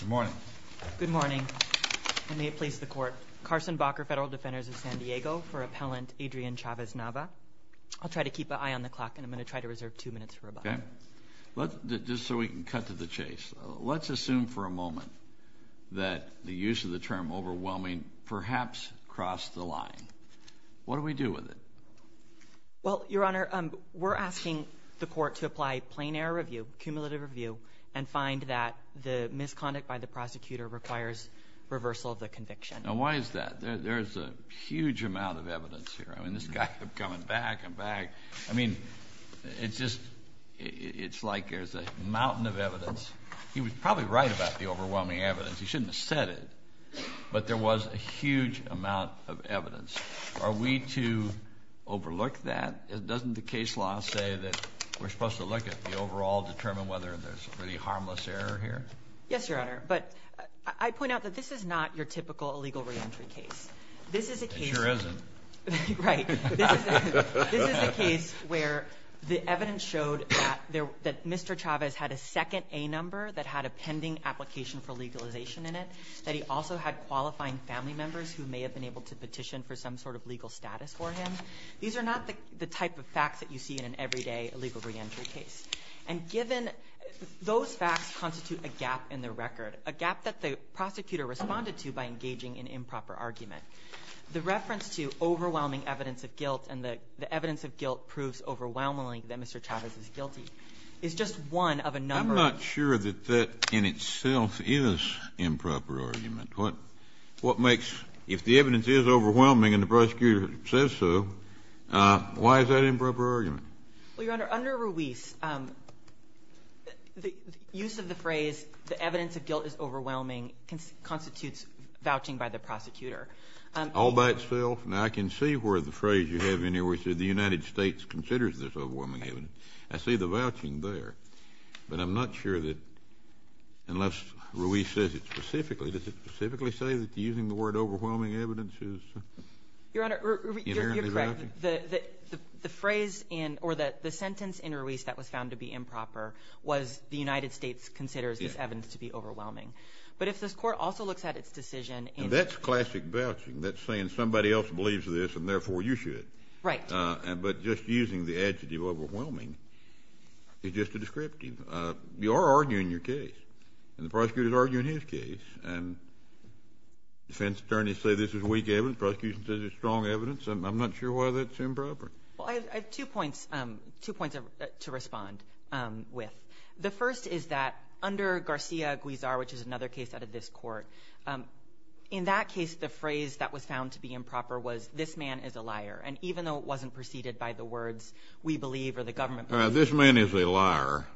Good morning. Good morning. And may it please the court. Carson Bakker, Federal Defenders of San Diego, for Appellant Adrian Chavez-Nava. I'll try to keep an eye on the clock and I'm going to try to reserve two minutes for rebuttal. Just so we can cut to the chase, let's assume for a moment that the use of the term overwhelming perhaps crossed the line. What do we do with it? Well, Your Honor, we're asking the court to apply plain error review, cumulative review, and find that the misconduct by the prosecutor requires reversal of the conviction. Now, why is that? There's a huge amount of evidence here. I mean, this guy kept coming back and back. I mean, it's just – it's like there's a mountain of evidence. He was probably right about the overwhelming evidence. He shouldn't have said it, but there was a huge amount of evidence. Are we to overlook that? Doesn't the case law say that we're supposed to look at the overall – determine whether there's any harmless error here? Yes, Your Honor, but I point out that this is not your typical illegal reentry case. This is a case – It sure isn't. Right. This is a case where the evidence showed that Mr. Chavez had a second A number that had a pending application for legalization in it, that he also had qualifying family members who may have been able to petition for some sort of legal status for him. These are not the type of facts that you see in an everyday illegal reentry case. And given – those facts constitute a gap in the record, a gap that the prosecutor responded to by engaging in improper argument. The reference to overwhelming evidence of guilt and the evidence of guilt proves overwhelmingly that Mr. Chavez is guilty is just one of a number of – I'm not sure that that in itself is improper argument. What makes – if the evidence is overwhelming and the prosecutor says so, why is that improper argument? Well, Your Honor, under Ruiz, the use of the phrase the evidence of guilt is overwhelming constitutes vouching by the prosecutor. All by itself? Now, I can see where the phrase you have in here where it says the United States considers this overwhelming evidence. I see the vouching there. But I'm not sure that unless Ruiz says it specifically, does it specifically say that using the word overwhelming evidence is inherently vouching? Your Honor, you're correct. The phrase in – or the sentence in Ruiz that was found to be improper was the United States considers this evidence to be overwhelming. But if this Court also looks at its decision and – That's classic vouching. That's saying somebody else believes this and, therefore, you should. Right. But just using the adjective overwhelming is just a descriptive. You are arguing your case. And the prosecutor is arguing his case. And defense attorneys say this is weak evidence. Prosecution says it's strong evidence. I'm not sure why that's improper. Well, I have two points – two points to respond with. The first is that under Garcia-Guizar, which is another case out of this Court, in that case, the phrase that was found to be improper was, this man is a liar. And even though it wasn't preceded by the words we believe or the government believes. All right. This man is a liar.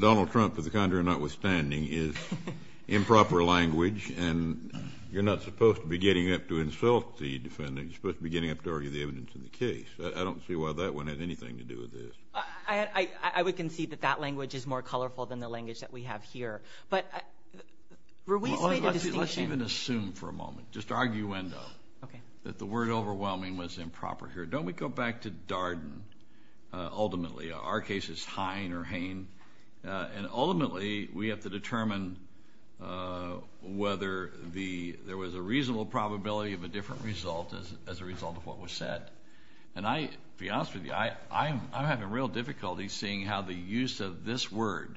Donald Trump, for the contrary notwithstanding, is improper language. And you're not supposed to be getting up to insult the defendant. You're supposed to be getting up to argue the evidence in the case. I don't see why that one had anything to do with this. I would concede that that language is more colorful than the language that we have here. But Ruiz made a distinction. Let's even assume for a moment, just arguendo, that the word overwhelming was improper here. Don't we go back to Darden ultimately? Our case is Hine or Hain. And ultimately, we have to determine whether there was a reasonable probability of a different result as a result of what was said. And I'll be honest with you. I'm having real difficulty seeing how the use of this word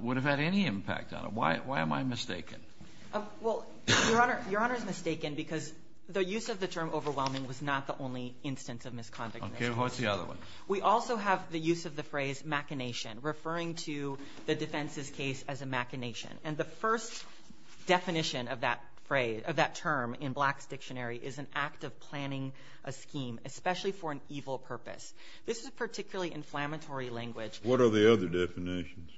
would have had any impact on it. Why am I mistaken? Well, Your Honor, Your Honor is mistaken because the use of the term overwhelming was not the only instance of misconduct in this case. Okay. What's the other one? We also have the use of the phrase machination, referring to the defense's case as a machination. And the first definition of that term in Black's dictionary is an act of planning a scheme, especially for an evil purpose. This is a particularly inflammatory language. What are the other definitions?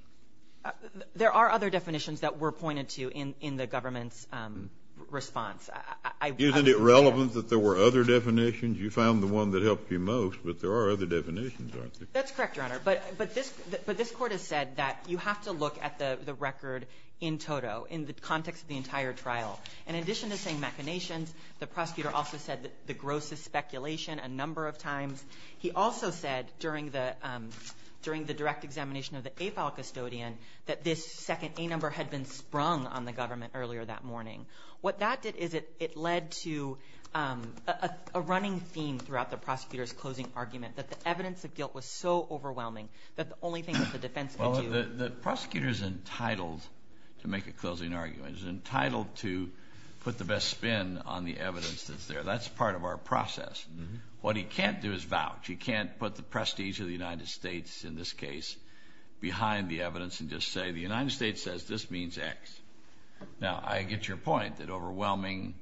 There are other definitions that were pointed to in the government's response. Isn't it relevant that there were other definitions? You found the one that helped you most, but there are other definitions, aren't there? That's correct, Your Honor. But this court has said that you have to look at the record in toto, in the context of the entire trial. In addition to saying machinations, the prosecutor also said the grossest speculation a number of times. He also said during the direct examination of the AFAL custodian that this second A number had been sprung on the government earlier that morning. What that did is it led to a running theme throughout the prosecutor's closing argument, that the evidence of guilt was so overwhelming that the only thing that the defense could do Well, the prosecutor's entitled to make a closing argument. He's entitled to put the best spin on the evidence that's there. That's part of our process. What he can't do is vouch. He can't put the prestige of the United States, in this case, behind the evidence and just say the United States says this means X. Now, I get your point that overwhelming,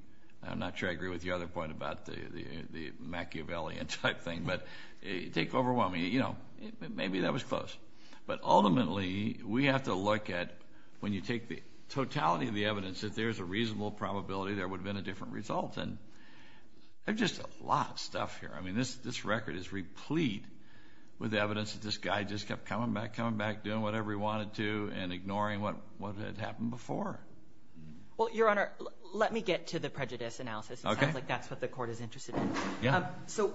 I'm not sure I agree with your other point about the Machiavellian type thing, but take overwhelming, you know, maybe that was close. But ultimately, we have to look at when you take the totality of the evidence, if there's a reasonable probability there would have been a different result. And there's just a lot of stuff here. I mean, this record is replete with evidence that this guy just kept coming back, coming back, doing whatever he wanted to and ignoring what had happened before. Well, Your Honor, let me get to the prejudice analysis. Okay. It sounds like that's what the Court is interested in. Yeah. So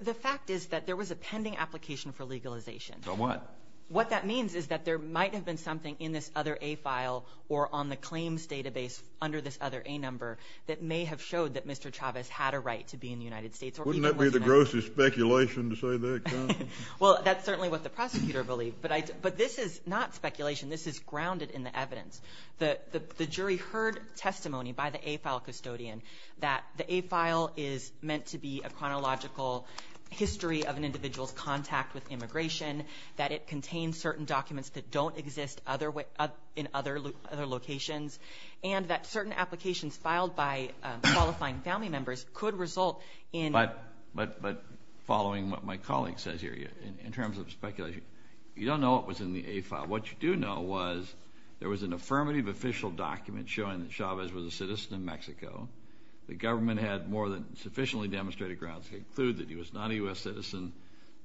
the fact is that there was a pending application for legalization. For what? What that means is that there might have been something in this other A file or on the claims database under this other A number that may have showed that Mr. Chavez had a right to be in the United States. Wouldn't that be the grossest speculation to say that? Well, that's certainly what the prosecutor believed. But this is not speculation. This is grounded in the evidence. The jury heard testimony by the A file custodian that the A file is meant to be a chronological history of an individual's contact with immigration, that it contains certain documents that don't exist in other locations, and that certain applications filed by qualifying family members could result in ---- But following what my colleague says here, in terms of speculation, you don't know what was in the A file. What you do know was there was an affirmative official document showing that Chavez was a citizen of Mexico. The government had more than sufficiently demonstrated grounds to conclude that he was not a U.S. citizen.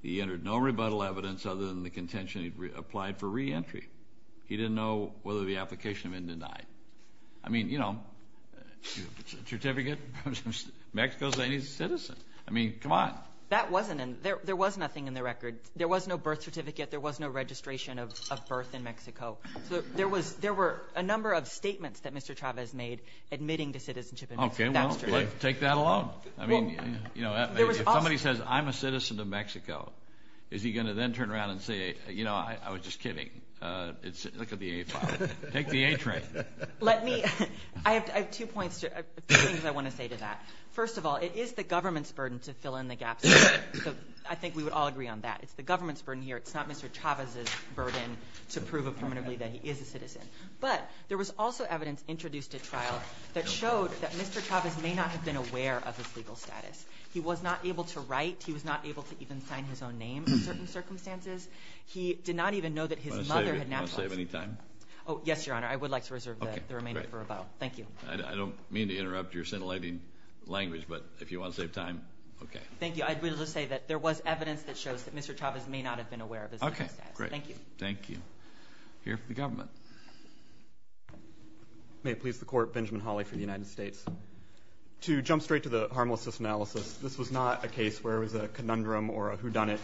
He entered no rebuttal evidence other than the contention he applied for reentry. He didn't know whether the application had been denied. I mean, you know, a certificate. Mexico is a citizen. I mean, come on. That wasn't in. There was nothing in the record. There was no birth certificate. There was no registration of birth in Mexico. So there were a number of statements that Mr. Chavez made admitting to citizenship. Okay, well, take that along. I mean, you know, if somebody says, I'm a citizen of Mexico, is he going to then turn around and say, you know, I was just kidding. Look at the A file. Take the A train. Let me. I have two points, two things I want to say to that. First of all, it is the government's burden to fill in the gaps. So I think we would all agree on that. It's the government's burden here. It's not Mr. Chavez's burden to prove affirmatively that he is a citizen. But there was also evidence introduced at trial that showed that Mr. Chavez may not have been aware of his legal status. He was not able to write. He was not able to even sign his own name in certain circumstances. He did not even know that his mother had naturalized. Do you want to save any time? Oh, yes, Your Honor. I would like to reserve the remainder for rebuttal. Thank you. I don't mean to interrupt your scintillating language, but if you want to save time, okay. Thank you. I would just say that there was evidence that shows that Mr. Chavez may not have been aware of his legal status. Okay, great. Thank you. Thank you. Here for the government. May it please the Court, Benjamin Hawley for the United States. To jump straight to the harmlessness analysis, this was not a case where it was a conundrum or a whodunit.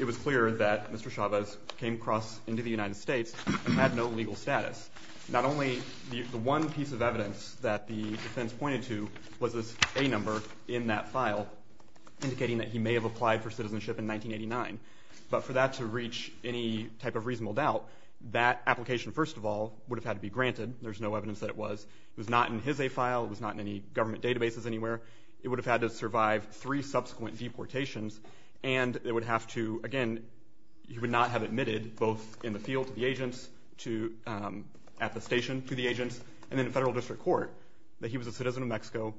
It was clear that Mr. Chavez came across into the United States and had no legal status. Not only the one piece of evidence that the defense pointed to was this A number in that file indicating that he may have applied for citizenship in 1989. But for that to reach any type of reasonable doubt, that application, first of all, would have had to be granted. There's no evidence that it was. It was not in his A file. It was not in any government databases anywhere. It would have had to survive three subsequent deportations, and it would have to, again, he would not have admitted both in the field to the agents, at the station to the agents, and in a federal district court that he was a citizen of Mexico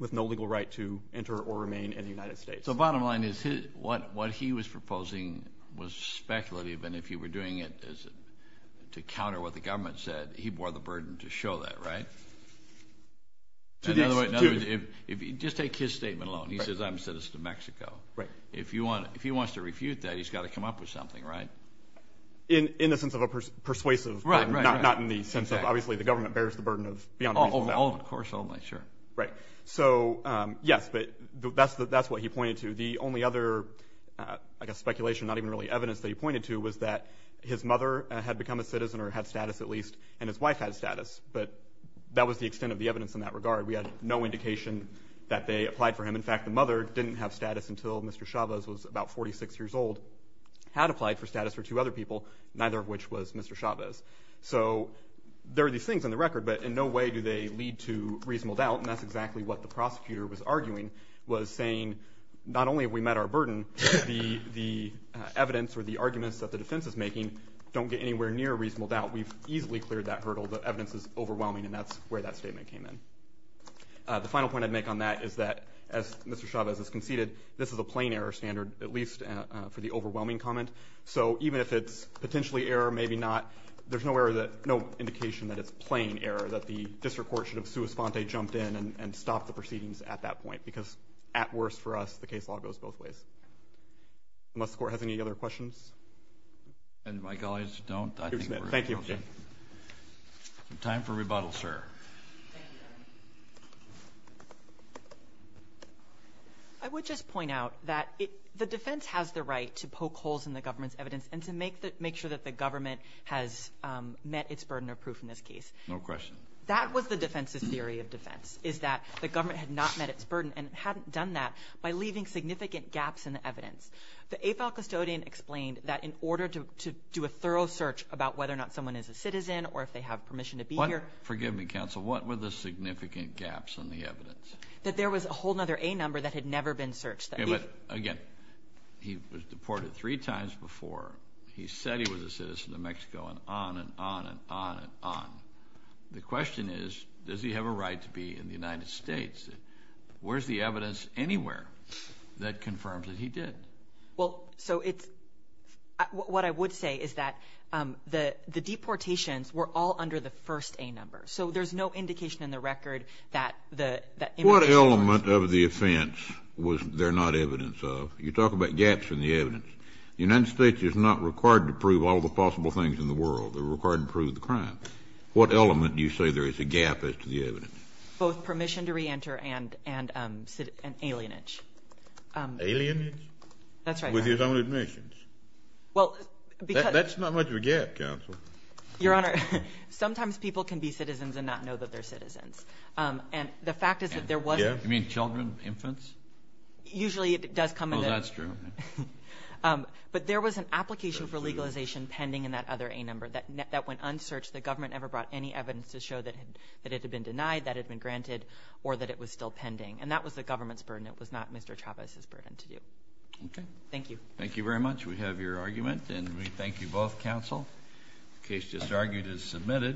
with no legal right to enter or remain in the United States. So bottom line is what he was proposing was speculative, and if you were doing it to counter what the government said, he bore the burden to show that, right? In other words, just take his statement alone. He says, I'm a citizen of Mexico. If he wants to refute that, he's got to come up with something, right? In the sense of a persuasive. Right, right. Not in the sense of, obviously, the government bears the burden of beyond reasonable doubt. Of course only, sure. Right. So, yes, but that's what he pointed to. The only other, I guess, speculation, not even really evidence that he pointed to, was that his mother had become a citizen or had status at least, and his wife had status. But that was the extent of the evidence in that regard. We had no indication that they applied for him. In fact, the mother didn't have status until Mr. Chavez was about 46 years old, had applied for status for two other people, neither of which was Mr. Chavez. So there are these things on the record, but in no way do they lead to reasonable doubt, and that's exactly what the prosecutor was arguing, was saying, not only have we met our burden, the evidence or the arguments that the defense is making don't get anywhere near reasonable doubt. We've easily cleared that hurdle. The evidence is overwhelming, and that's where that statement came in. The final point I'd make on that is that, as Mr. Chavez has conceded, this is a plain error standard, at least for the overwhelming comment. So even if it's potentially error, maybe not, there's no indication that it's plain error, that the district court should have sua sponte jumped in and stopped the proceedings at that point, because at worst for us, the case law goes both ways. Unless the Court has any other questions? And my colleagues don't. Thank you. Time for rebuttal, sir. I would just point out that the defense has the right to poke holes in the government's evidence and to make sure that the government has met its burden of proof in this case. No question. That was the defense's theory of defense, is that the government had not met its burden and hadn't done that by leaving significant gaps in the evidence. The AFAL custodian explained that in order to do a thorough search about whether or not someone is a citizen or if they have permission to be here. Forgive me, Counsel. What were the significant gaps in the evidence? That there was a whole other A number that had never been searched. Again, he was deported three times before. He said he was a citizen of Mexico and on and on and on and on. The question is, does he have a right to be in the United States? Where's the evidence anywhere that confirms that he did? Well, so it's what I would say is that the deportations were all under the first A number. So there's no indication in the record that the immigration was. What element of the offense was there not evidence of? You talk about gaps in the evidence. The United States is not required to prove all the possible things in the world. They're required to prove the crime. What element do you say there is a gap as to the evidence? Both permission to reenter and alienage. Alienage? That's right, Your Honor. With his own admissions? Well, because that's not much of a gap, Counsel. Your Honor, sometimes people can be citizens and not know that they're citizens. And the fact is that there was not. You mean children, infants? Usually it does come in the. Oh, that's true. But there was an application for legalization pending in that other A number that went unsearched. The government never brought any evidence to show that it had been denied, that it had been granted, or that it was still pending. And that was the government's burden. It was not Mr. Chavez's burden to do. Okay. Thank you. Thank you very much. We have your argument. And we thank you both, Counsel. The case just argued is submitted.